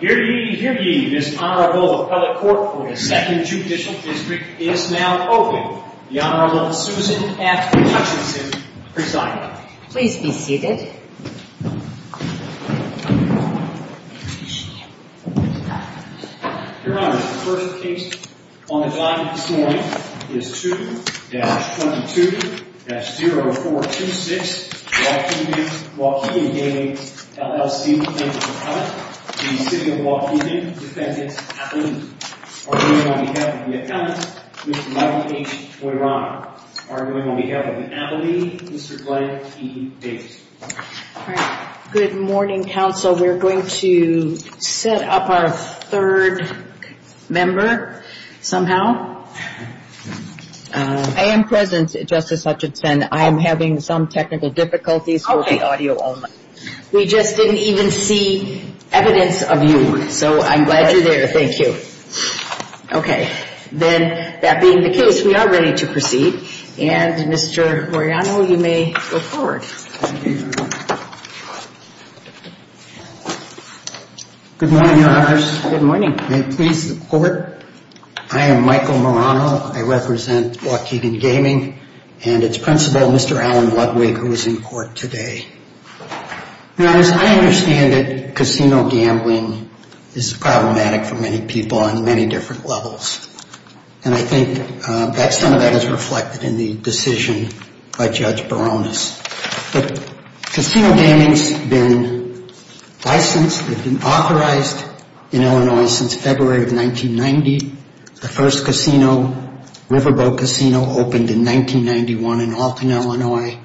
Hear ye, hear ye. This Honorable Appellate Court for the 2nd Judicial District is now open. The Honorable Susan F. Hutchinson presiding. Please be seated. Your Honor, the first case on the docket this morning is 2-22-0426, Waukegan Gaming, LLC v. Appellate v. City of Waukegan v. Appellate. Arguing on behalf of the Appellate, Mr. Michael H. Oirana. Arguing on behalf of the Appellate, Mr. Glenn T. Davis. Good morning, counsel. We're going to set up our third member somehow. I am present, Justice Hutchinson. I am having some technical difficulties with the audio. We just didn't even see evidence of you, so I'm glad you're there. Thank you. Okay. Then, that being the case, we are ready to proceed, and Mr. Oirana, you may go forward. Good morning, Your Honor. Good morning. May it please the Court, I am Michael Oirana. I represent Waukegan Gaming and its principal, Mr. Alan Ludwig, who is in court today. Now, as I understand it, casino gambling is problematic for many people on many different levels. And I think that some of that is reflected in the decision by Judge Baronis. Casino gaming has been licensed and authorized in Illinois since February of 1990. The first casino, Riverboat Casino, opened in 1991 in Alton, Illinois.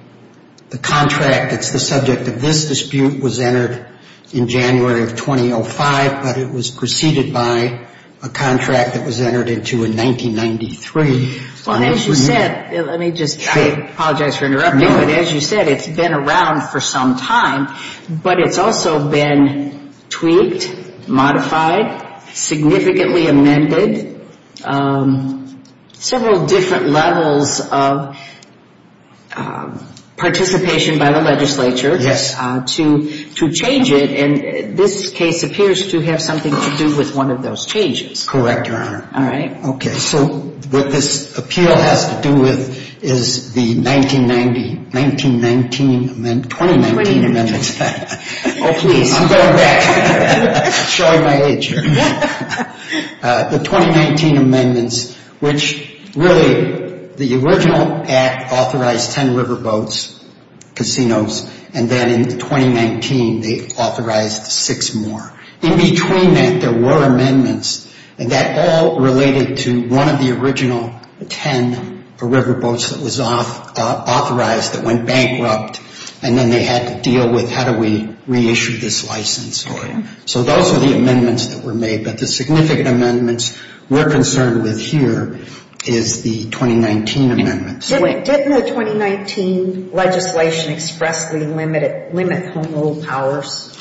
The contract that's the subject of this dispute was entered in January of 2005, but it was preceded by a contract that was entered into in 1993. Well, as you said, let me just, I apologize for interrupting, but as you said, it's been around for some time, but it's also been tweaked, modified, significantly amended, several different levels of participation by the legislature to change it, and this case appears to have something to do with one of those changes. Correct, Your Honor. All right. Okay, so what this appeal has to do with is the 1990, 1919, 2019 amendments. Oh, please. I'm going back. I'm showing my age here. The 2019 amendments, which really, the original act authorized 10 riverboats, casinos, and then in 2019, they authorized six more. In between that, there were amendments, and that all related to one of the original 10 riverboats that was authorized that went bankrupt, and then they had to deal with how do we reissue this license. Okay. So those are the amendments that were made, but the significant amendments we're concerned with here is the 2019 amendments. Didn't the 2019 legislation expressly limit home rule powers?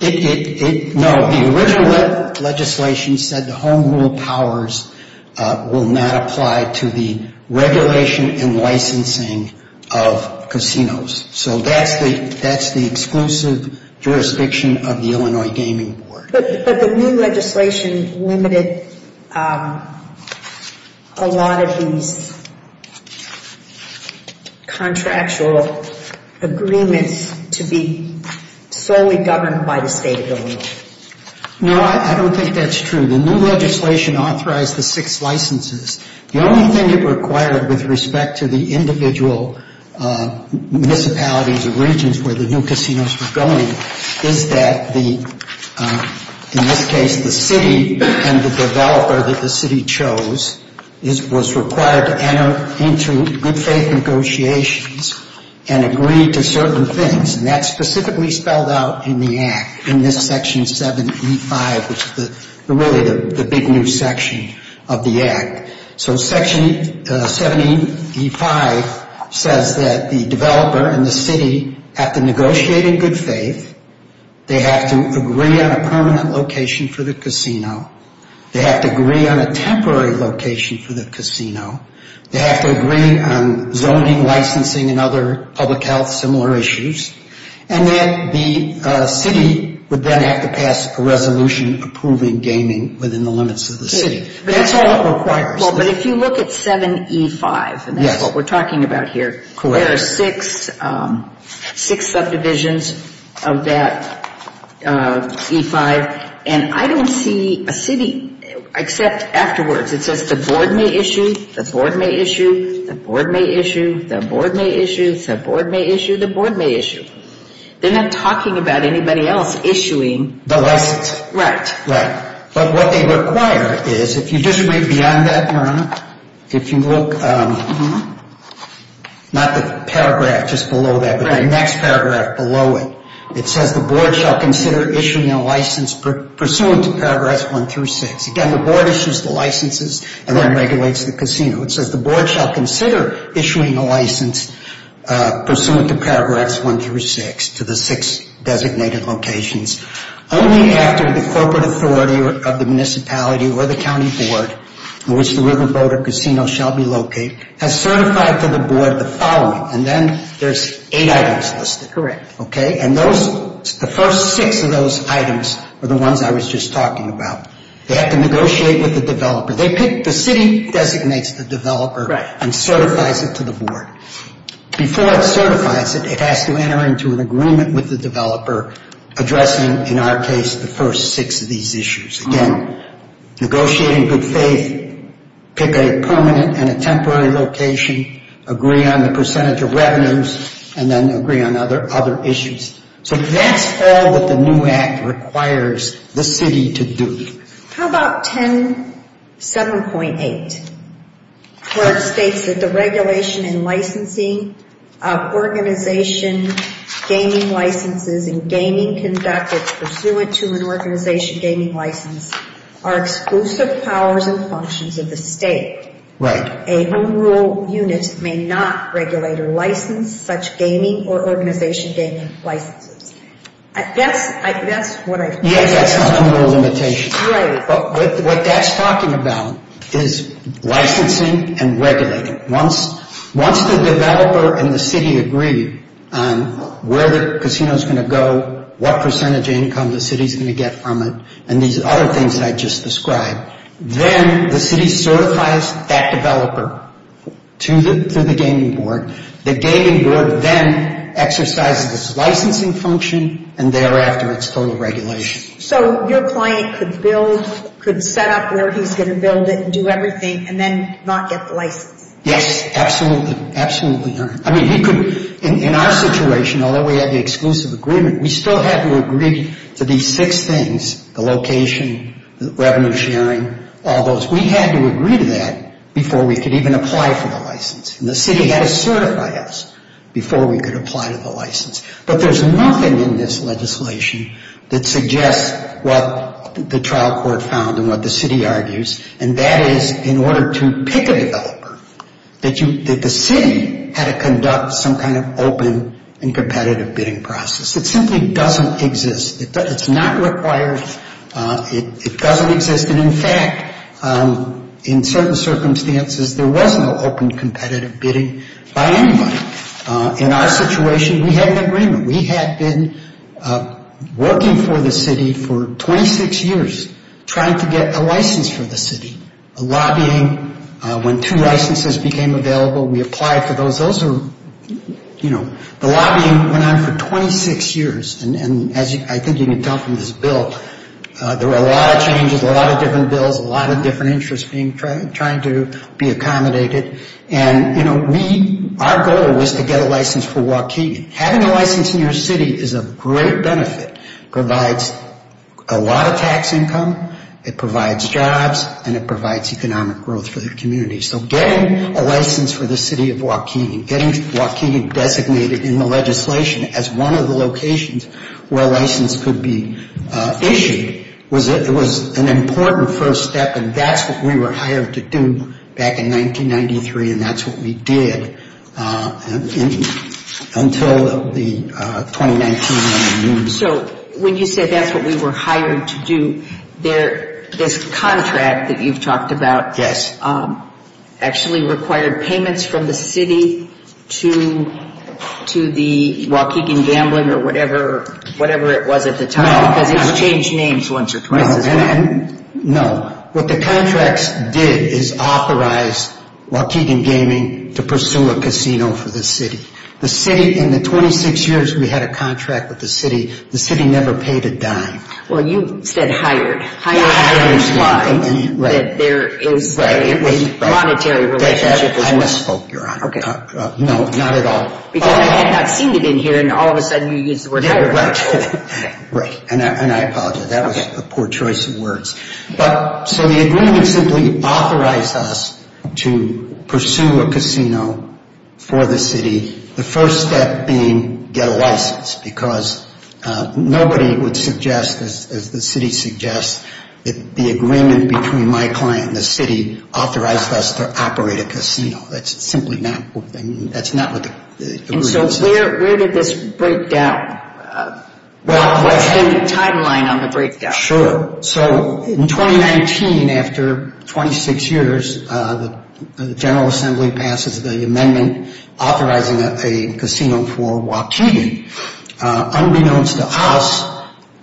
No. The original legislation said the home rule powers will not apply to the regulation and licensing of casinos, so that's the exclusive jurisdiction of the Illinois Gaming Board. But the new legislation limited a lot of these contractual agreements to be solely governed by the state of Illinois. No, I don't think that's true. The new legislation authorized the six licenses. The only thing it required with respect to the individual municipalities or regions where the new casinos were going is that, in this case, the city and the developer that the city chose was required to enter into good faith negotiations and agree to certain things, and that's specifically spelled out in the Act, in this Section 7E5, which is really the big new section of the Act. So Section 7E5 says that the developer and the city have to negotiate in good faith. They have to agree on a permanent location for the casino. They have to agree on a temporary location for the casino. They have to agree on zoning, licensing, and other public health similar issues, and then the city would then have to pass a resolution approving gaming within the limits of the city. That's all it requires. Well, but if you look at 7E5, and that's what we're talking about here, there are six subdivisions of that E5, and I don't see a city except afterwards. It says the board may issue, the board may issue, the board may issue, the board may issue, the board may issue, the board may issue. They're not talking about anybody else issuing the license. Right. Right. But what they require is, if you just read beyond that, Your Honor, if you look, not the paragraph just below that, but the next paragraph below it, it says the board shall consider issuing a license pursuant to Paragraphs 1 through 6. Again, the board issues the licenses and then regulates the casino. It says the board shall consider issuing a license pursuant to Paragraphs 1 through 6 to the six designated locations only after the corporate authority of the municipality or the county board in which the Riverboda Casino shall be located has certified to the board the following. And then there's eight items listed. Correct. Okay? And those, the first six of those items are the ones I was just talking about. They have to negotiate with the developer. They pick, the city designates the developer and certifies it to the board. Before it certifies it, it has to enter into an agreement with the developer addressing, in our case, the first six of these issues. Again, negotiating good faith, pick a permanent and a temporary location, agree on the percentage of revenues, and then agree on other issues. So that's all that the new act requires the city to do. How about 10.7.8, where it states that the regulation and licensing of organization gaming licenses and gaming conduct that's pursuant to an organization gaming license are exclusive powers and functions of the state. Right. A home rule unit may not regulate or license such gaming or organization gaming licenses. That's what I think. Yes, that's a home rule limitation. Right. But what that's talking about is licensing and regulating. Once the developer and the city agree on where the casino's going to go, what percentage income the city's going to get from it, and these other things I just described, then the city certifies that developer to the gaming board. The gaming board then exercises its licensing function and thereafter its total regulation. So your client could build, could set up where he's going to build it and do everything and then not get the license. Yes, absolutely. Absolutely. I mean, he could, in our situation, although we had the exclusive agreement, we still had to agree to these six things, the location, the revenue sharing, all those. We had to agree to that before we could even apply for the license. And the city had to certify us before we could apply to the license. But there's nothing in this legislation that suggests what the trial court found and what the city argues, and that is in order to pick a developer, that the city had to conduct some kind of open and competitive bidding process. It simply doesn't exist. It's not required. It doesn't exist. And in fact, in certain circumstances, there was no open competitive bidding by anybody. In our situation, we had an agreement. We had been working for the city for 26 years trying to get a license for the city, a lobbying. When two licenses became available, we applied for those. Those are, you know, the lobbying went on for 26 years. And as I think you can tell from this bill, there were a lot of changes, a lot of different bills, a lot of different interests trying to be accommodated. And, you know, our goal was to get a license for Joaquin. Having a license in your city is a great benefit, provides a lot of tax income, it provides jobs, and it provides economic growth for the community. So getting a license for the city of Joaquin, getting Joaquin designated in the legislation as one of the locations where a license could be issued was an important first step, and that's what we were hired to do back in 1993, and that's what we did until the 2019. So when you say that's what we were hired to do, this contract that you've talked about actually required payments from the city to the Joaquin Gambling or whatever it was at the time, because it's changed names once or twice. No, what the contracts did is authorize Joaquin Gaming to pursue a casino for the city. The city, in the 26 years we had a contract with the city, the city never paid a dime. Well, you said hired. Hired is lying. That there is a monetary relationship. I misspoke, Your Honor. No, not at all. Because I had not seen it in here, and all of a sudden you used the word hired. Right, and I apologize. That was a poor choice of words. So the agreement simply authorized us to pursue a casino for the city, the first step being get a license, because nobody would suggest, as the city suggests, that the agreement between my client and the city authorized us to operate a casino. That's simply not what the agreement says. And so where did this break down? What's been the timeline on the breakdown? Sure. So in 2019, after 26 years, the General Assembly passes the amendment authorizing a casino for Joaquin. Unbeknownst to us,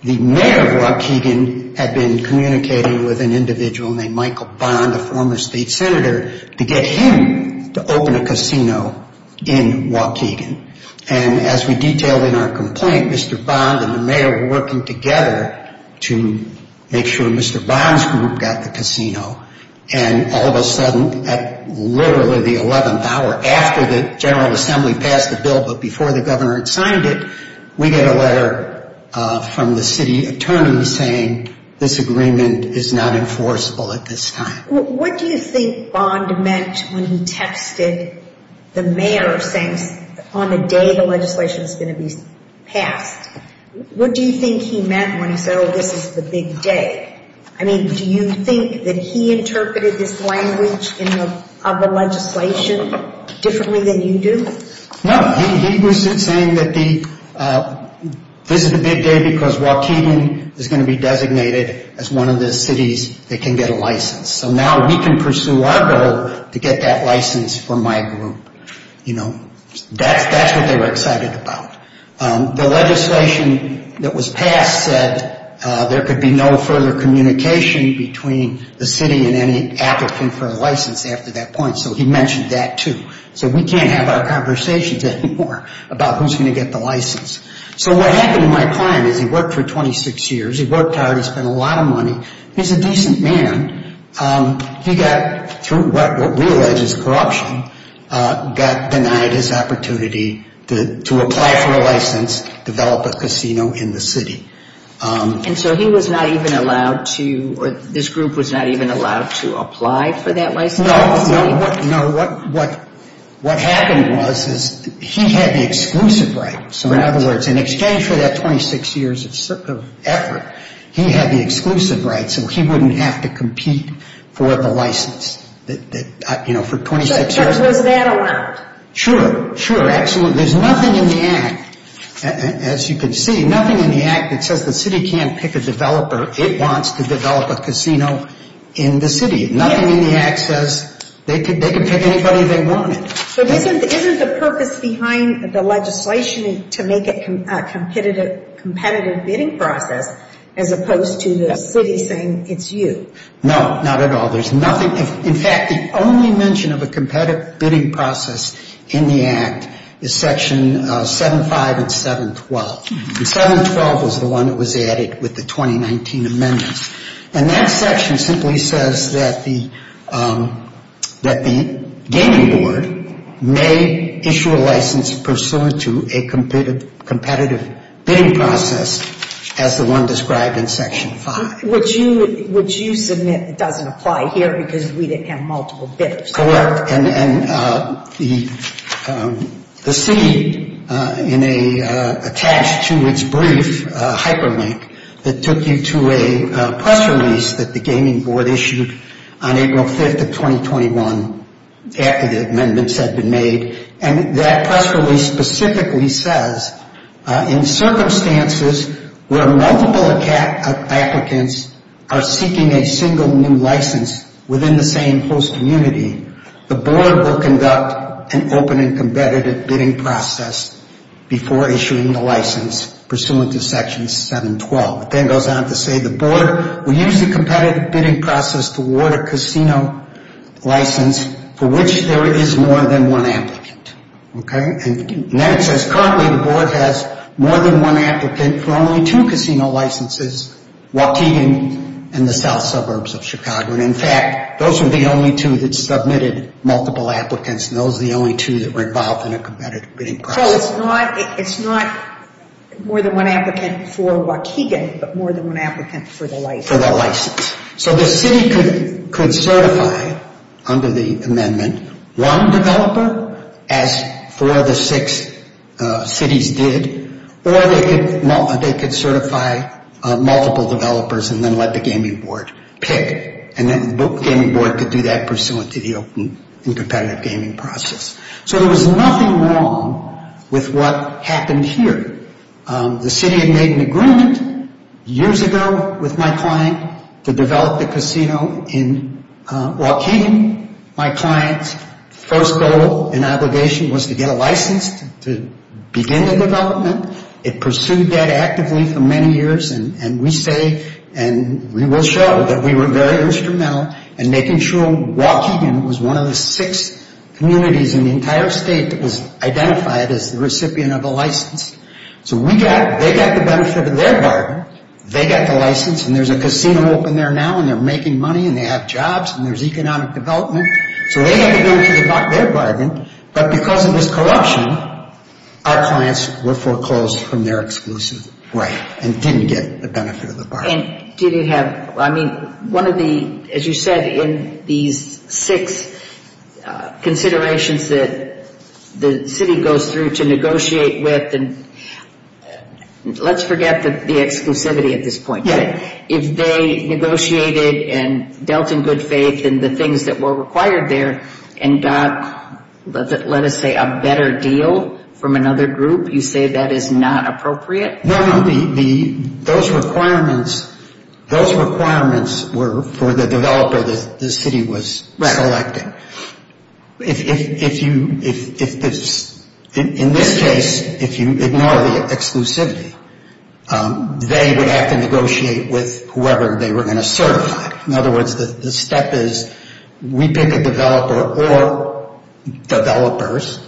the mayor of Joaquin had been communicating with an individual named Michael Bond, a former state senator, to get him to open a casino in Joaquin. And as we detailed in our complaint, Mr. Bond and the mayor were working together to make sure Mr. Bond's group got the casino. And all of a sudden, at literally the 11th hour after the General Assembly passed the bill but before the governor had signed it, we get a letter from the city attorney saying, this agreement is not enforceable at this time. What do you think Bond meant when he texted the mayor saying on the day the legislation is going to be passed? What do you think he meant when he said, oh, this is the big day? I mean, do you think that he interpreted this language of the legislation differently than you do? No. He was saying that this is the big day because Joaquin is going to be designated as one of the cities that can get a license. So now we can pursue our goal to get that license for my group. That's what they were excited about. The legislation that was passed said there could be no further communication between the city and any applicant for a license after that point, so he mentioned that too. So we can't have our conversations anymore about who's going to get the license. So what happened to my client is he worked for 26 years. He worked hard. He spent a lot of money. He's a decent man. He got through what we allege is corruption, got denied his opportunity to apply for a license, develop a casino in the city. And so he was not even allowed to or this group was not even allowed to apply for that license? No. What happened was he had the exclusive right. In exchange for that 26 years of effort, he had the exclusive right so he wouldn't have to compete for the license for 26 years. But was that allowed? Sure. Sure. Absolutely. There's nothing in the Act, as you can see, nothing in the Act that says the city can't pick a developer. It wants to develop a casino in the city. Nothing in the Act says they can pick anybody they wanted. So isn't the purpose behind the legislation to make it a competitive bidding process as opposed to the city saying it's you? No, not at all. There's nothing. In fact, the only mention of a competitive bidding process in the Act is Section 75 and 712. And 712 was the one that was added with the 2019 amendments. And that section simply says that the gaming board may issue a license pursuant to a competitive bidding process as the one described in Section 5. Would you submit it doesn't apply here because we didn't have multiple bidders? Correct. And the city attached to its brief, Hyperlink, that took you to a press release that the gaming board issued on April 5th of 2021 after the amendments had been made. And that press release specifically says, in circumstances where multiple applicants are seeking a single new license within the same host community, the board will conduct an open and competitive bidding process before issuing the license pursuant to Section 712. It then goes on to say the board will use the competitive bidding process to award a casino license for which there is more than one applicant. Okay? And then it says currently the board has more than one applicant for only two casino licenses, Waukegan and the south suburbs of Chicago. And in fact, those would be the only two that submitted multiple applicants and those are the only two that were involved in a competitive bidding process. So it's not more than one applicant for Waukegan, but more than one applicant for the license. For the license. So the city could certify under the amendment one developer, as four of the six cities did, or they could certify multiple developers and then let the gaming board pick. And then the gaming board could do that pursuant to the open and competitive gaming process. So there was nothing wrong with what happened here. The city had made an agreement years ago with my client to develop the casino in Waukegan. My client's first goal and obligation was to get a license to begin the development. It pursued that actively for many years and we say and we will show that we were very instrumental in making sure Waukegan was one of the six communities in the entire state that was identified as the recipient of a license. So they got the benefit of their bargain. They got the license and there's a casino open there now and they're making money and they have jobs and there's economic development. So they got the benefit of their bargain. But because of this corruption, our clients were foreclosed from their exclusive. And didn't get the benefit of the bargain. And did it have, I mean, one of the, as you said, in these six considerations that the city goes through to negotiate with, and let's forget the exclusivity at this point. Yeah. If they negotiated and dealt in good faith and the things that were required there and got, let us say, a better deal from another group, you say that is not appropriate? No, no. Those requirements were for the developer the city was selecting. Right. If you, in this case, if you ignore the exclusivity, they would have to negotiate with whoever they were going to certify. In other words, the step is we pick a developer or developers,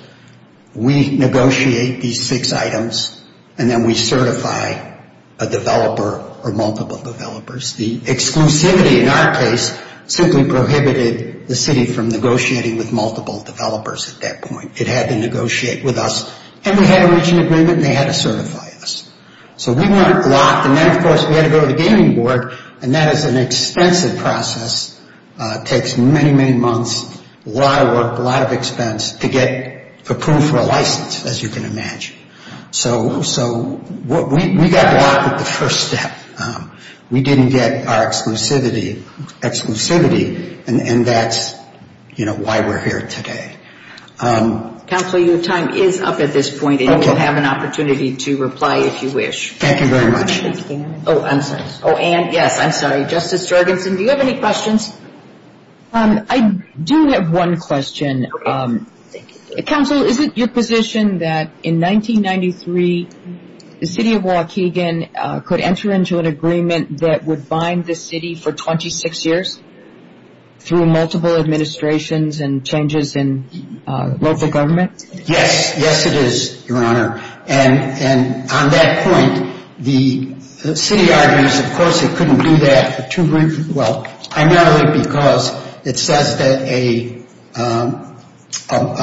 we negotiate these six items, and then we certify a developer or multiple developers. The exclusivity, in our case, simply prohibited the city from negotiating with multiple developers at that point. It had to negotiate with us. And we had a reaching agreement and they had to certify us. So we weren't locked. And then, of course, we had to go to the gaming board. And that is an expensive process. It takes many, many months, a lot of work, a lot of expense to get approved for a license, as you can imagine. So we got locked with the first step. We didn't get our exclusivity. And that's, you know, why we're here today. Counselor, your time is up at this point. And you will have an opportunity to reply if you wish. Thank you very much. Oh, I'm sorry. Oh, Anne, yes, I'm sorry. Justice Jorgensen, do you have any questions? I do have one question. Counsel, is it your position that in 1993 the city of Waukegan could enter into an agreement that would bind the city for 26 years through multiple administrations and changes in local government? Yes. Yes, it is, Your Honor. And on that point, the city argues, of course, it couldn't do that. Well, primarily because it says that a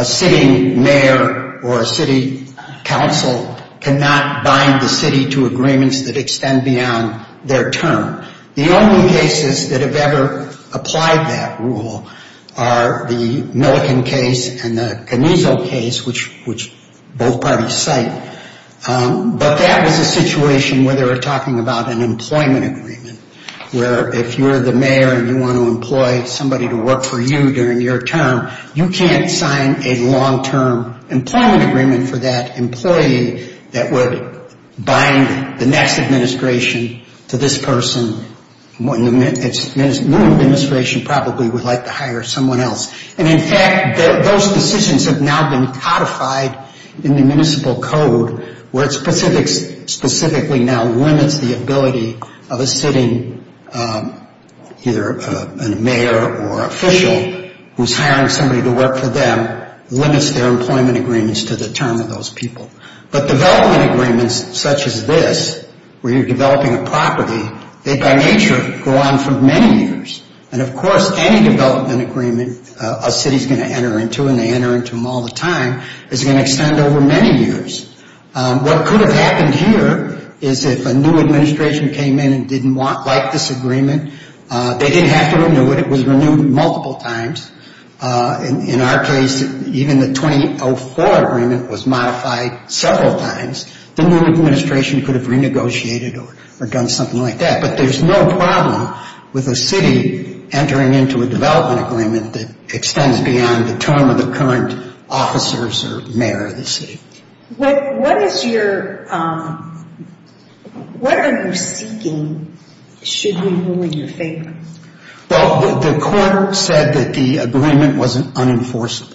sitting mayor or a city council cannot bind the city to agreements that extend beyond their term. The only cases that have ever applied that rule are the Milliken case and the Canizo case, which both parties cite. But that was a situation where they were talking about an employment agreement, where if you're the mayor and you want to employ somebody to work for you during your term, you can't sign a long-term employment agreement for that employee that would bind the next administration to this person. No administration probably would like to hire someone else. And, in fact, those decisions have now been codified in the municipal code, where it specifically now limits the ability of a sitting either a mayor or official who's hiring somebody to work for them, limits their employment agreements to the term of those people. But development agreements such as this, where you're developing a property, they, by nature, go on for many years. And, of course, any development agreement a city's going to enter into, and they enter into them all the time, is going to extend over many years. What could have happened here is if a new administration came in and didn't like this agreement, they didn't have to renew it. It was renewed multiple times. In our case, even the 2004 agreement was modified several times. The new administration could have renegotiated or done something like that. But there's no problem with a city entering into a development agreement that extends beyond the term of the current officers or mayor of the city. What are you seeking should we ruin your favor? Well, the court said that the agreement wasn't unenforceable.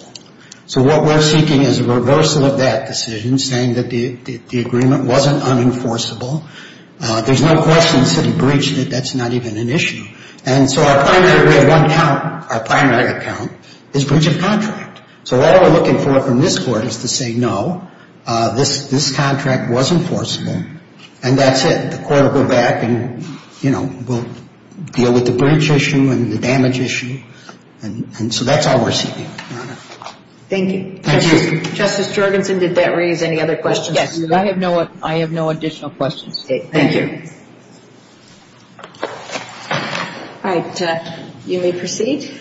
So what we're seeking is a reversal of that decision, saying that the agreement wasn't unenforceable. There's no question the city breached it. That's not even an issue. And so our primary account is breach of contract. So all we're looking for from this court is to say, no, this contract was enforceable, and that's it. The court will go back and, you know, we'll deal with the breach issue and the damage issue. And so that's all we're seeking. Thank you. Thank you. Justice Jorgenson, did that raise any other questions for you? I have no additional questions. Thank you. All right. You may proceed.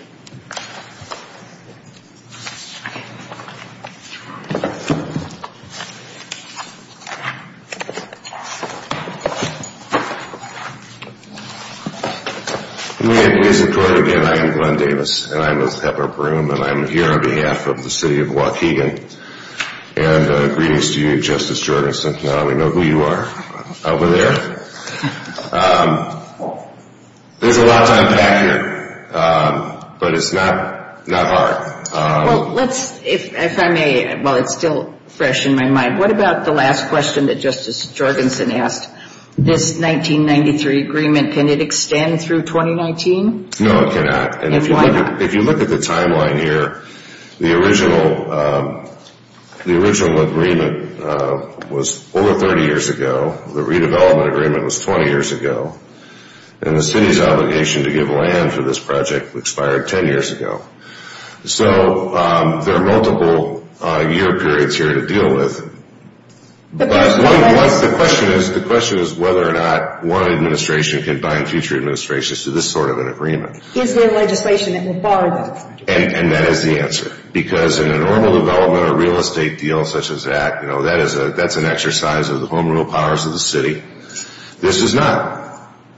Good morning, ladies and gentlemen. Again, I'm Glenn Davis, and I'm with Pepper Broom, and I'm here on behalf of the city of Waukegan. And greetings to you, Justice Jorgenson. Now we know who you are over there. There's a lot to unpack here, but it's not hard. Well, let's, if I may, while it's still fresh in my mind, what about the last question that Justice Jorgenson asked? This 1993 agreement, can it extend through 2019? No, it cannot. And why not? If you look at the timeline here, the original agreement was over 30 years ago. The redevelopment agreement was 20 years ago. And the city's obligation to give land for this project expired 10 years ago. So there are multiple year periods here to deal with. The question is whether or not one administration can bind future administrations to this sort of an agreement. Is there legislation that will bar that? And that is the answer. Because in a normal development or real estate deal such as that, that's an exercise of the home rule powers of the city. This is not.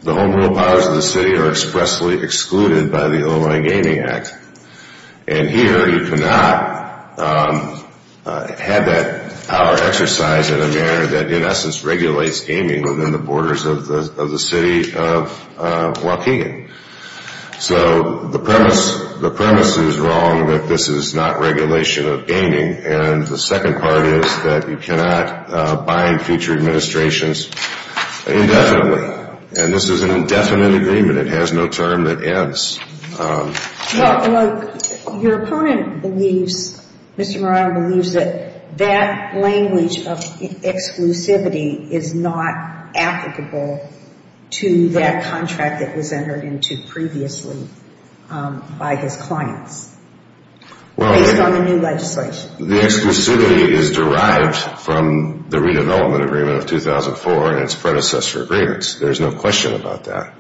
The home rule powers of the city are expressly excluded by the O-Line Gaming Act. And here you cannot have that power exercised in a manner that in essence regulates gaming within the borders of the city of Waukegan. So the premise is wrong that this is not regulation of gaming. And the second part is that you cannot bind future administrations indefinitely. And this is an indefinite agreement. It has no term that ends. Your opponent believes, Mr. Moran believes that that language of exclusivity is not applicable to that contract that was entered into previously by his clients. Based on the new legislation. The exclusivity is derived from the redevelopment agreement of 2004 and its predecessor agreements. There's no question about that.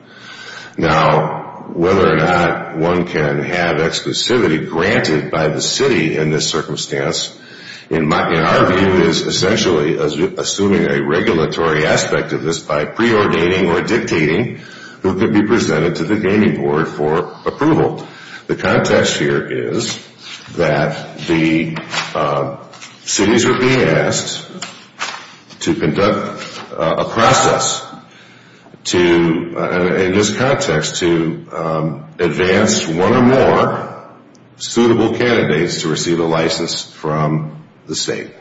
Now, whether or not one can have exclusivity granted by the city in this circumstance, in our view is essentially assuming a regulatory aspect of this by preordaining or dictating who can be presented to the gaming board for approval. The context here is that the cities are being asked to conduct a process in this context to advance one or more suitable candidates to receive a license from the state.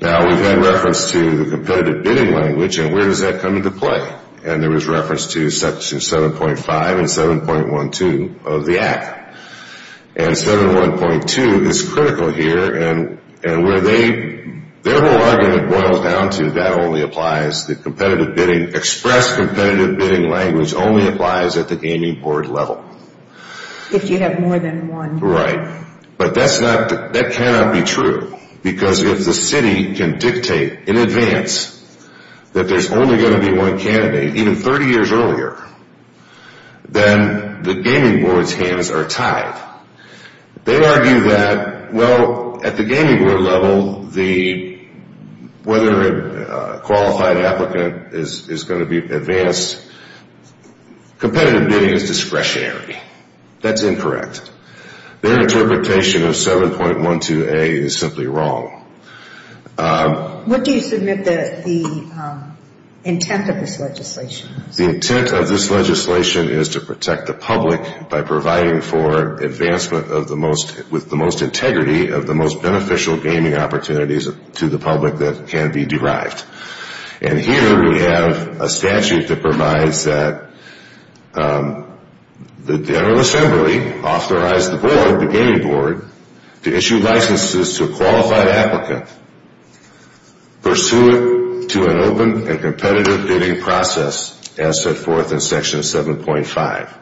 Now, we've had reference to the competitive bidding language and where does that come into play? And there was reference to section 7.5 and 7.12 of the act. And 7.12 is critical here. And where they, their whole argument boils down to that only applies, the competitive bidding, express competitive bidding language only applies at the gaming board level. If you have more than one. Right. But that's not, that cannot be true. Because if the city can dictate in advance that there's only going to be one candidate, even 30 years earlier, then the gaming board's hands are tied. They argue that, well, at the gaming board level, whether a qualified applicant is going to be advanced, competitive bidding is discretionary. That's incorrect. Their interpretation of 7.12a is simply wrong. What do you submit the intent of this legislation? The intent of this legislation is to protect the public by providing for advancement of the most, with the most integrity of the most beneficial gaming opportunities to the public that can be derived. And here we have a statute that provides that the General Assembly authorize the board, the gaming board, to issue licenses to a qualified applicant pursuant to an open and competitive bidding process, as set forth in section 7.5.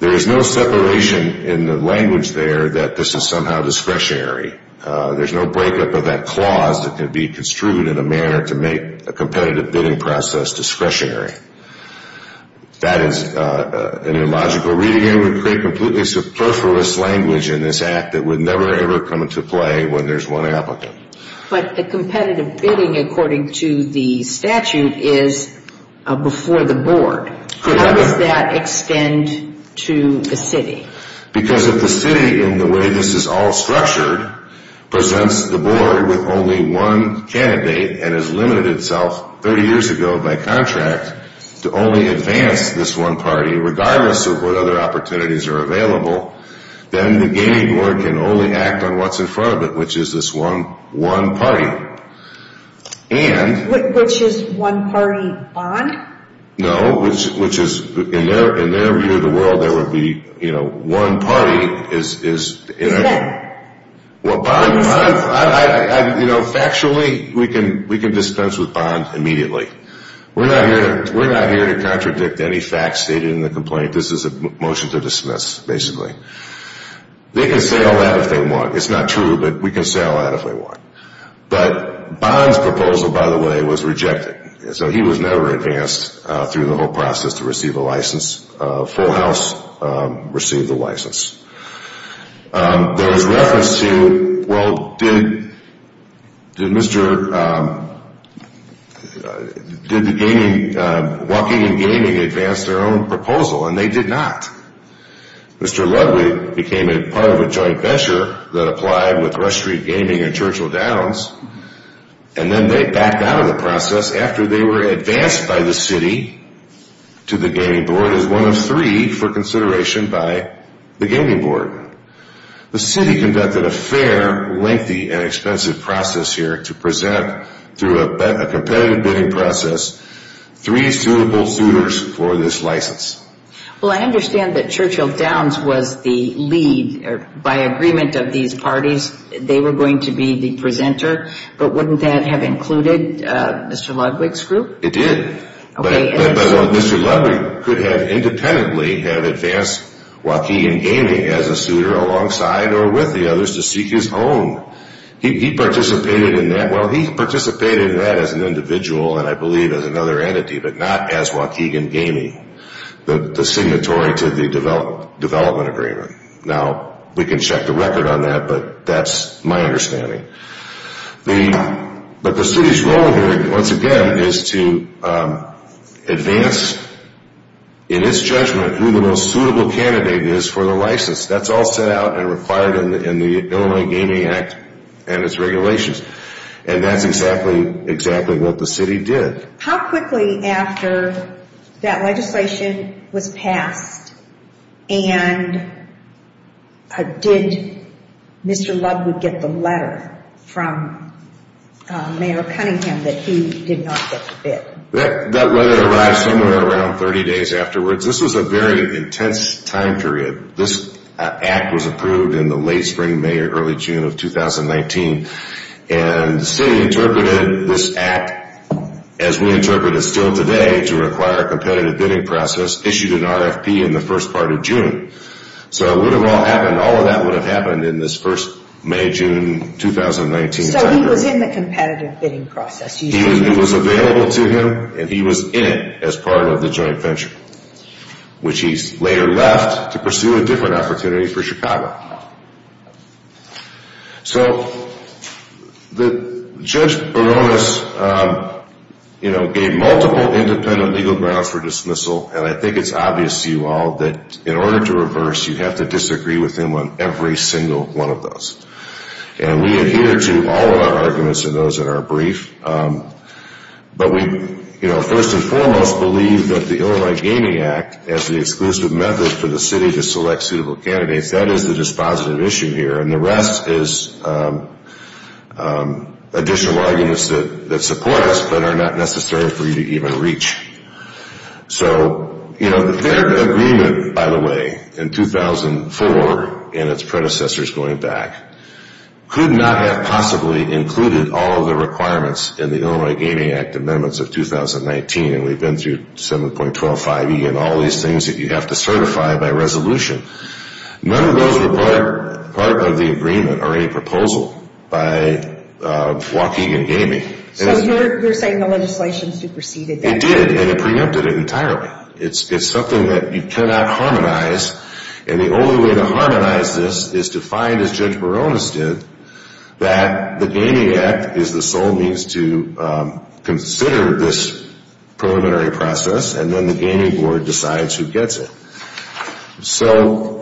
There is no separation in the language there that this is somehow discretionary. There's no breakup of that clause that can be construed in a manner to make a competitive bidding process discretionary. That is an illogical reading and would create completely superfluous language in this act that would never, ever come into play when there's one applicant. But the competitive bidding, according to the statute, is before the board. How does that extend to the city? Because if the city, in the way this is all structured, presents the board with only one candidate and has limited itself 30 years ago by contract to only advance this one party, regardless of what other opportunities are available, then the gaming board can only act on what's in front of it, which is this one party. Which is one party bond? No, which is, in their view of the world, there would be, you know, one party is... Is that... You know, factually, we can dispense with bond immediately. We're not here to contradict any facts stated in the complaint. This is a motion to dismiss, basically. They can say all that if they want. It's not true, but we can say all that if we want. But Bond's proposal, by the way, was rejected. So he was never advanced through the whole process to receive a license. Full House received the license. There was reference to, well, did Mr. Did the gaming, Walking In Gaming, advance their own proposal? And they did not. Mr. Ludwig became part of a joint venture that applied with Rush Street Gaming and Churchill Downs. And then they backed out of the process after they were advanced by the city to the gaming board as one of three for consideration by the gaming board. The city conducted a fair, lengthy, and expensive process here to present, through a competitive bidding process, three suitable suitors for this license. Well, I understand that Churchill Downs was the lead. By agreement of these parties, they were going to be the presenter. But wouldn't that have included Mr. Ludwig's group? It did. But Mr. Ludwig could have independently have advanced Walking In Gaming as a suitor alongside or with the others to seek his own. He participated in that. Well, he participated in that as an individual, and I believe as another entity, but not as Walking In Gaming, the signatory to the development agreement. Now, we can check the record on that, but that's my understanding. But the city's role here, once again, is to advance, in its judgment, who the most suitable candidate is for the license. That's all set out and required in the Illinois Gaming Act and its regulations. And that's exactly what the city did. How quickly after that legislation was passed and did Mr. Ludwig get the letter from Mayor Cunningham that he did not get the bid? That letter arrived somewhere around 30 days afterwards. This was a very intense time period. This act was approved in the late spring, May, or early June of 2019. And the city interpreted this act as we interpret it still today to require a competitive bidding process issued in RFP in the first part of June. So it would have all happened, all of that would have happened in this first May, June, 2019. So he was in the competitive bidding process. He was available to him, and he was in it as part of the joint venture, which he later left to pursue a different opportunity for Chicago. So Judge Baronis, you know, gave multiple independent legal grounds for dismissal. And I think it's obvious to you all that in order to reverse, you have to disagree with him on every single one of those. And we adhere to all of our arguments in those that are brief. But we, you know, first and foremost believe that the Illinois Gaming Act as the exclusive method for the city to select suitable candidates, that is the dispositive issue here. And the rest is additional arguments that support us but are not necessary for you to even reach. So, you know, their agreement, by the way, in 2004, and its predecessors going back, could not have possibly included all of the requirements in the Illinois Gaming Act amendments of 2019. And we've been through 7.25E and all these things that you have to certify by resolution. None of those were part of the agreement or any proposal by Waukegan Gaming. So you're saying the legislation superseded that? It did, and it preempted it entirely. It's something that you cannot harmonize. And the only way to harmonize this is to find, as Judge Baronis did, that the Gaming Act is the sole means to consider this preliminary process and then the Gaming Board decides who gets it. So...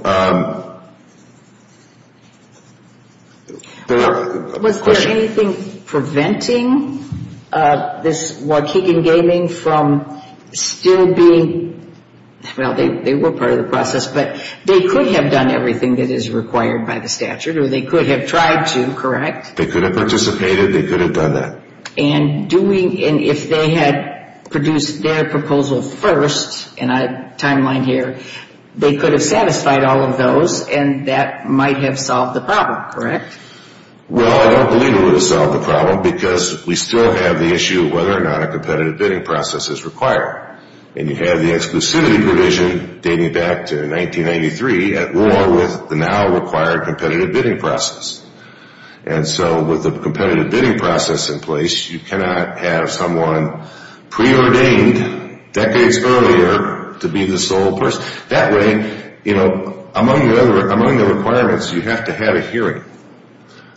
Was there anything preventing this Waukegan Gaming from still being... Well, they were part of the process, but they could have done everything that is required by the statute, or they could have tried to, correct? They could have participated, they could have done that. And if they had produced their proposal first, and I have a timeline here, they could have satisfied all of those, and that might have solved the problem, correct? Well, I don't believe it would have solved the problem because we still have the issue of whether or not a competitive bidding process is required. And you have the exclusivity provision dating back to 1993 at war with the now required competitive bidding process. And so with the competitive bidding process in place, you cannot have someone preordained decades earlier to be the sole person. That way, among the requirements, you have to have a hearing.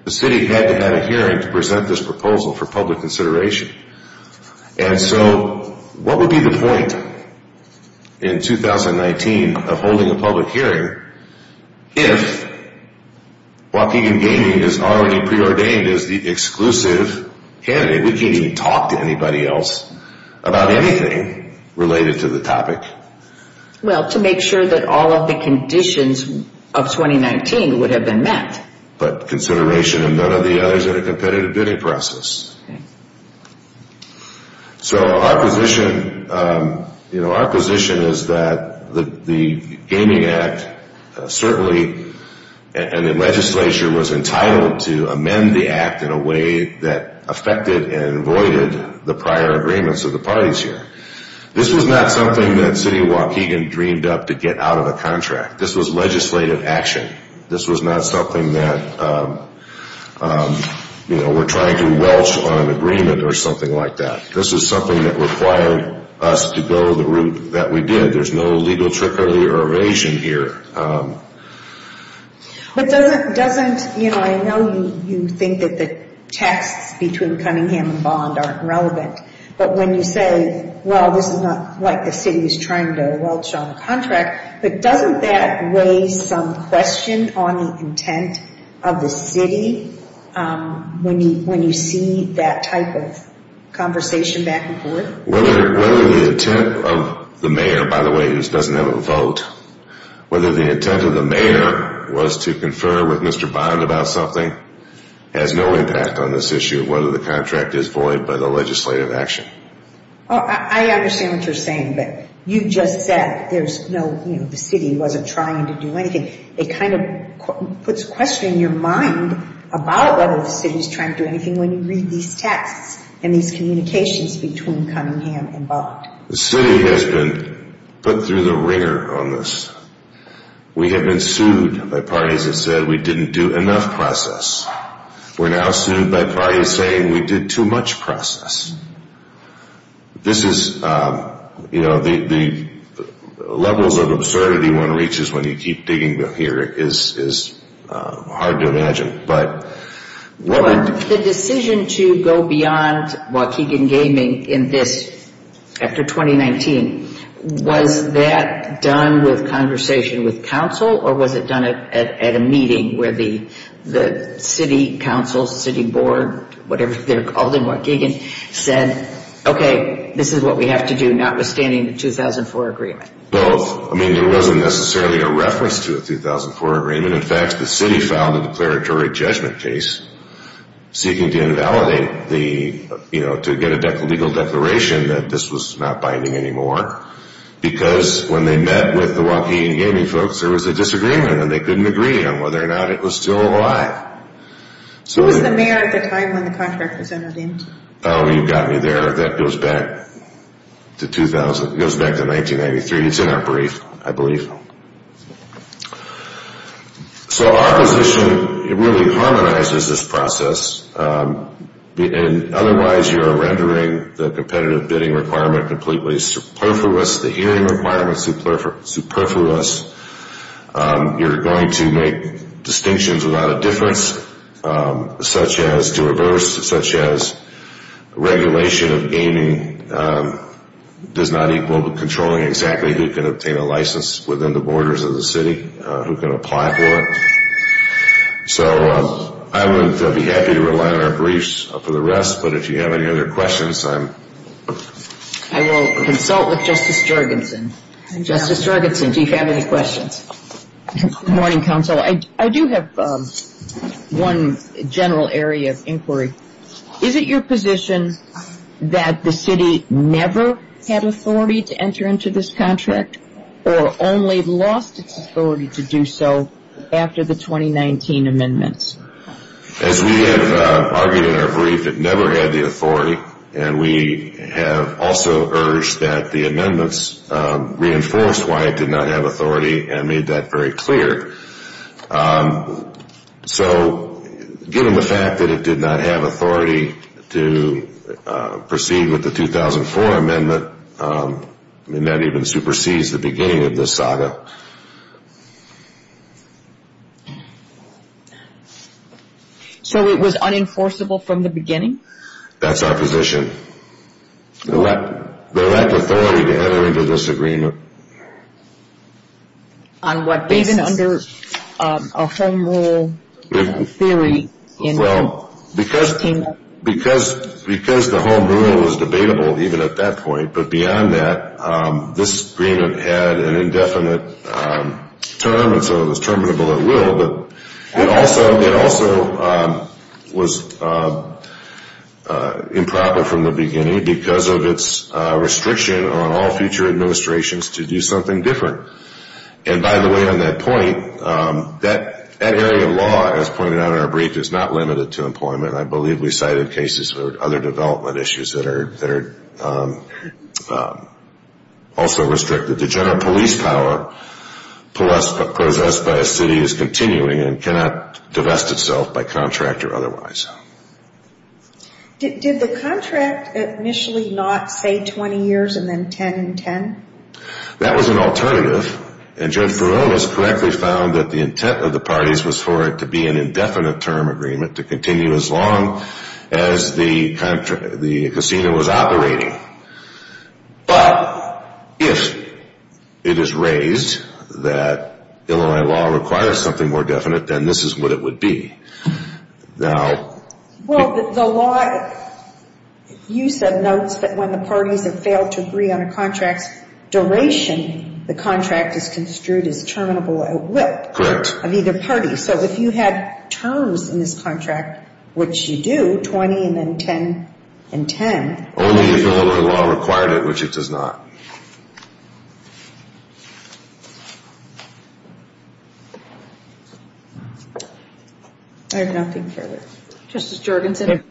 The city had to have a hearing to present this proposal for public consideration. And so what would be the point in 2019 of holding a public hearing if Waukegan Gaming is already preordained as the exclusive candidate? We can't even talk to anybody else about anything related to the topic. Well, to make sure that all of the conditions of 2019 would have been met. But consideration of none of the others in a competitive bidding process. So our position, you know, our position is that the Gaming Act, certainly, and the legislature was entitled to amend the act in a way that affected and voided the prior agreements of the parties here. This was not something that city of Waukegan dreamed up to get out of a contract. This was legislative action. This was not something that, you know, we're trying to welch on an agreement or something like that. This is something that required us to go the route that we did. There's no legal trickery or evasion here. But doesn't, you know, I know you think that the texts between Cunningham and Bond aren't relevant. But when you say, well, this is not like the city is trying to welch on a contract. But doesn't that raise some question on the intent of the city when you see that type of conversation back and forth? Whether the intent of the mayor, by the way, who doesn't have a vote, whether the intent of the mayor was to confer with Mr. Bond about something, has no impact on this issue of whether the contract is void by the legislative action. I understand what you're saying, but you just said there's no, you know, the city wasn't trying to do anything. It kind of puts a question in your mind about whether the city is trying to do anything when you read these texts and these communications between Cunningham and Bond. The city has been put through the wringer on this. We have been sued by parties that said we didn't do enough process. We're now sued by parties saying we did too much process. This is, you know, the levels of absurdity one reaches when you keep digging here is hard to imagine. But the decision to go beyond Waukegan Gaming in this, after 2019, was that done with conversation with council or was it done at a meeting where the city council, city board, whatever they're called in Waukegan, said, okay, this is what we have to do, notwithstanding the 2004 agreement? Both. I mean, there wasn't necessarily a reference to a 2004 agreement. In fact, the city filed a declaratory judgment case seeking to invalidate the, you know, to get a legal declaration that this was not binding anymore. Because when they met with the Waukegan Gaming folks, there was a disagreement and they couldn't agree on whether or not it was still alive. Who was the mayor at the time when the contract was entered in? Oh, you've got me there. That goes back to 2000, goes back to 1993. It's in our brief, I believe. So our position really harmonizes this process. Otherwise, you're rendering the competitive bidding requirement completely superfluous, the hearing requirement superfluous. You're going to make distinctions without a difference, such as to reverse, such as regulation of gaming does not equal controlling exactly who can obtain a license within the borders of the city, who can apply for it. So I would be happy to rely on our briefs for the rest. But if you have any other questions, I'm... I will consult with Justice Jorgensen. Justice Jorgensen, do you have any questions? Good morning, counsel. I do have one general area of inquiry. Is it your position that the city never had authority to enter into this contract or only lost its authority to do so after the 2019 amendments? As we have argued in our brief, it never had the authority, and we have also urged that the amendments reinforced why it did not have authority and made that very clear. So given the fact that it did not have authority to proceed with the 2004 amendment, I mean, that even supersedes the beginning of this saga. So it was unenforceable from the beginning? That's our position. There was lack of authority to enter into this agreement. On what basis? Even under a home rule theory? Well, because the home rule was debatable even at that point, but beyond that, this agreement had an indefinite term, and so it was terminable at will, but it also was improper from the beginning because of its restriction on all future administrations to do something different. And by the way, on that point, that area of law, as pointed out in our brief, is not limited to employment. I believe we cited cases or other development issues that are also restricted. The general police power possessed by a city is continuing and cannot divest itself by contract or otherwise. Did the contract initially not say 20 years and then 10 and 10? That was an alternative, and Judge Farrell has correctly found that the intent of the parties was for it to be an indefinite term agreement, to continue as long as the casino was operating. But if it is raised that Illinois law requires something more definite, then this is what it would be. Well, the law, you said, notes that when the parties have failed to agree on a contract's duration, the contract is construed as terminable at will. Correct. Of either party. So if you had terms in this contract, which you do, 20 and then 10 and 10. Only if Illinois law required it, which it does not. I have nothing further. Justice Jorgenson?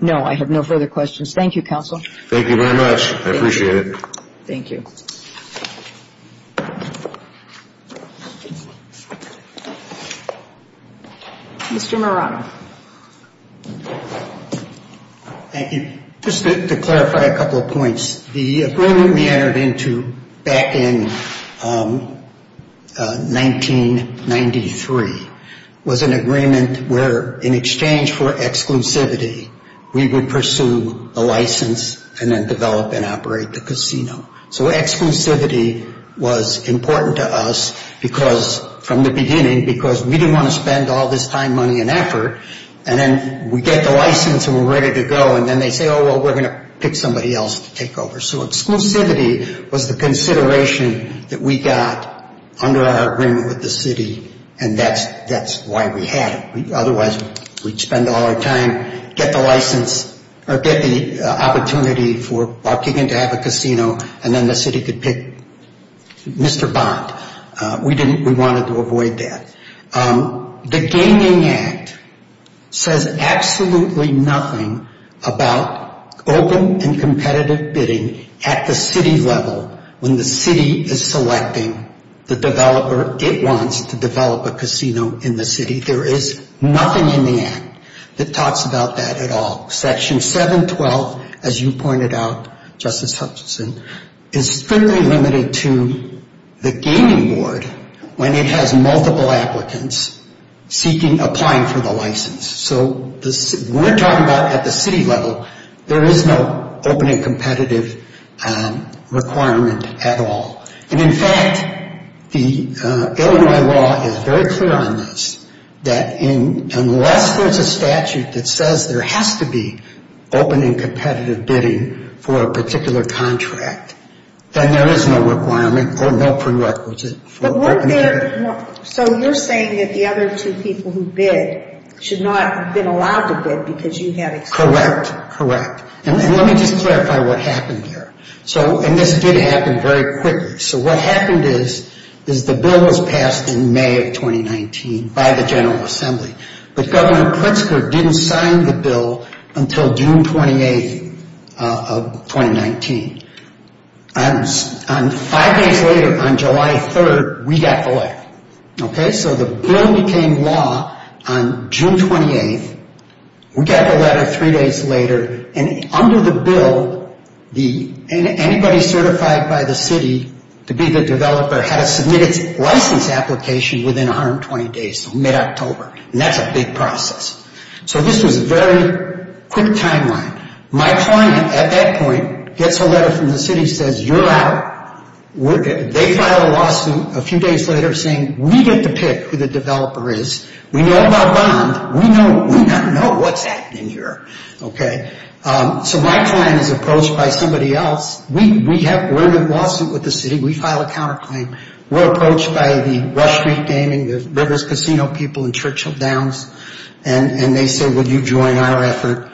No, I have no further questions. Thank you, counsel. Thank you very much. I appreciate it. Thank you. Mr. Marano? Thank you. Just to clarify a couple of points. The agreement we entered into back in 1993 was an agreement where, in exchange for exclusivity, we would pursue a license and then develop and operate the casino. So exclusivity was important to us from the beginning because we didn't want to spend all this time, money, and effort, and then we get the license and we're ready to go, and then they say, oh, well, we're going to pick somebody else to take over. So exclusivity was the consideration that we got under our agreement with the city, and that's why we had it. Otherwise, we'd spend all our time, get the license, or get the opportunity for Buckingham to have a casino, and then the city could pick Mr. Bond. We wanted to avoid that. The Gaming Act says absolutely nothing about open and competitive bidding at the city level when the city is selecting the developer it wants to develop a casino in the city. There is nothing in the Act that talks about that at all. Section 712, as you pointed out, Justice Hutchinson, is strictly limited to the gaming board when it has multiple applicants seeking, applying for the license. So we're talking about at the city level, there is no open and competitive requirement at all. And, in fact, the Illinois law is very clear on this, that unless there's a statute that says there has to be open and competitive bidding for a particular contract, then there is no requirement or no prerequisite for opening bidding. So you're saying that the other two people who bid should not have been allowed to bid because you had excluded them. Correct, correct. And let me just clarify what happened there. And this did happen very quickly. So what happened is the bill was passed in May of 2019 by the General Assembly. But Governor Pritzker didn't sign the bill until June 28th of 2019. Five days later, on July 3rd, we got the letter. So the bill became law on June 28th. We got the letter three days later. And under the bill, anybody certified by the city to be the developer had to submit its license application within 120 days, so mid-October. And that's a big process. So this was a very quick timeline. My client, at that point, gets a letter from the city, says, You're out. They file a lawsuit a few days later saying, We get to pick who the developer is. We know about bond. We know what's happening here. Okay. So my client is approached by somebody else. We're in a lawsuit with the city. We file a counterclaim. We're approached by the Rush Street Gaming, the Rivers Casino people, and Churchill Downs. And they say, Would you join our effort?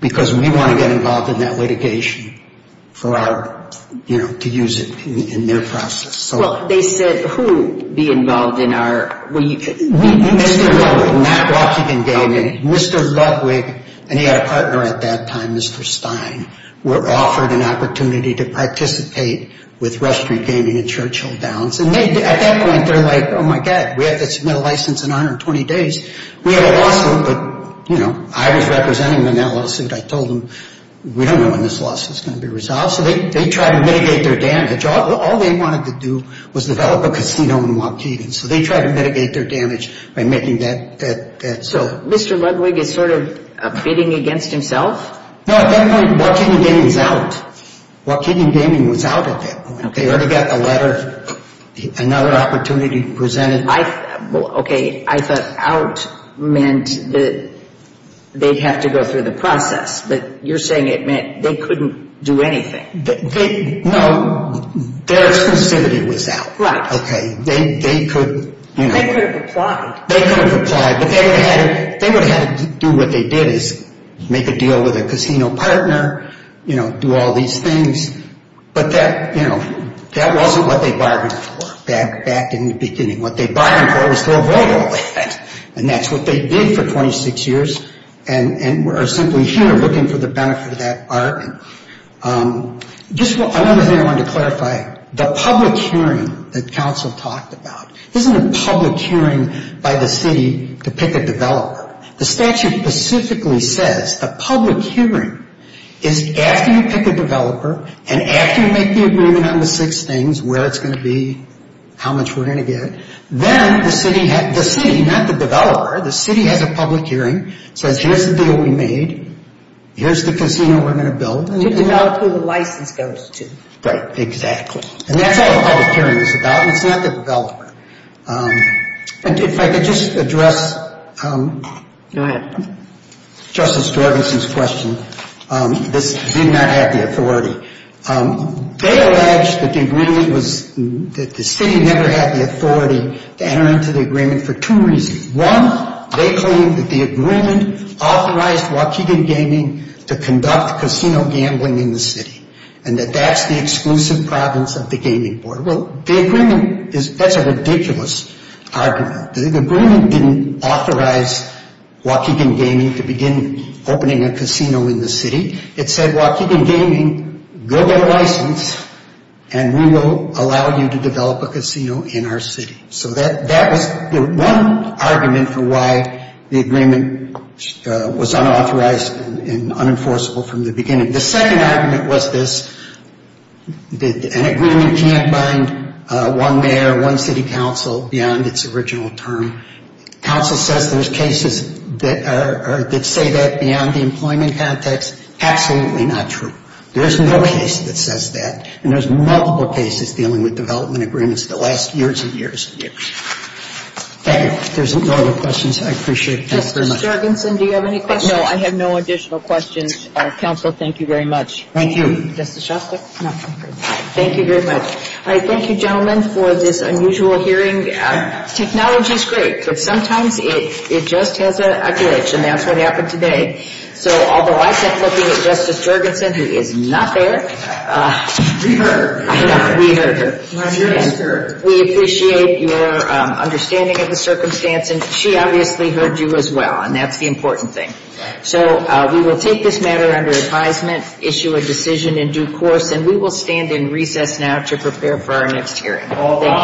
Because we want to get involved in that litigation for our, you know, to use it in their process. Well, they said, Who be involved in our? Mr. Ludwig, not Waukegan Gaming. Mr. Ludwig and he had a partner at that time, Mr. Stein, were offered an opportunity to participate with Rush Street Gaming and Churchill Downs. And at that point, they're like, Oh, my God. We have to submit a license in 120 days. We had a lawsuit, but, you know, I was representing them in that lawsuit. I told them, We don't know when this lawsuit is going to be resolved. So they tried to mitigate their damage. All they wanted to do was develop a casino in Waukegan. So they tried to mitigate their damage by making that. So Mr. Ludwig is sort of bidding against himself? No, at that point, Waukegan Gaming was out. Waukegan Gaming was out at that point. They already got a letter, another opportunity presented. Okay. I thought out meant that they'd have to go through the process. But you're saying it meant they couldn't do anything. No, their exclusivity was out. Right. Okay. They could, you know. They could have applied. They could have applied, but they would have had to do what they did, is make a deal with a casino partner, you know, do all these things. But that, you know, that wasn't what they bargained for back in the beginning. What they bargained for was to avoid all that. And that's what they did for 26 years and are simply here looking for the benefit of that arc. Just one other thing I wanted to clarify. The public hearing that counsel talked about, this isn't a public hearing by the city to pick a developer. The statute specifically says a public hearing is after you pick a developer and after you make the agreement on the six things, where it's going to be, how much we're going to get, then the city, not the developer, the city has a public hearing, says here's the deal we made, here's the casino we're going to build. To develop who the license goes to. Right. Exactly. And that's what a public hearing is about. It's not the developer. And if I could just address Justice Dorganson's question. This did not have the authority. They alleged that the agreement was, that the city never had the authority to enter into the agreement for two reasons. One, they claimed that the agreement authorized Waukegan Gaming to conduct casino gambling in the city. And that that's the exclusive province of the gaming board. Well, the agreement is, that's a ridiculous argument. The agreement didn't authorize Waukegan Gaming to begin opening a casino in the city. It said Waukegan Gaming, go get a license and we will allow you to develop a casino in our city. So that was the one argument for why the agreement was unauthorized and unenforceable from the beginning. The second argument was this, an agreement can't bind one mayor, one city council beyond its original term. Council says there's cases that say that beyond the employment context. Absolutely not true. There's no case that says that. And there's multiple cases dealing with development agreements the last years and years and years. Thank you. If there's no other questions, I appreciate this very much. Justice Jorgensen, do you have any questions? No, I have no additional questions. Counsel, thank you very much. Thank you. Justice Shostak? No, I'm good. Thank you very much. All right. Thank you, gentlemen, for this unusual hearing. Technology is great, but sometimes it just has a glitch and that's what happened today. So although I kept looking at Justice Jorgensen, who is not there. We heard her. We heard her. We appreciate your understanding of the circumstance. And she obviously heard you as well, and that's the important thing. So we will take this matter under advisement, issue a decision in due course, and we will stand in recess now to prepare for our next hearing. Thank you.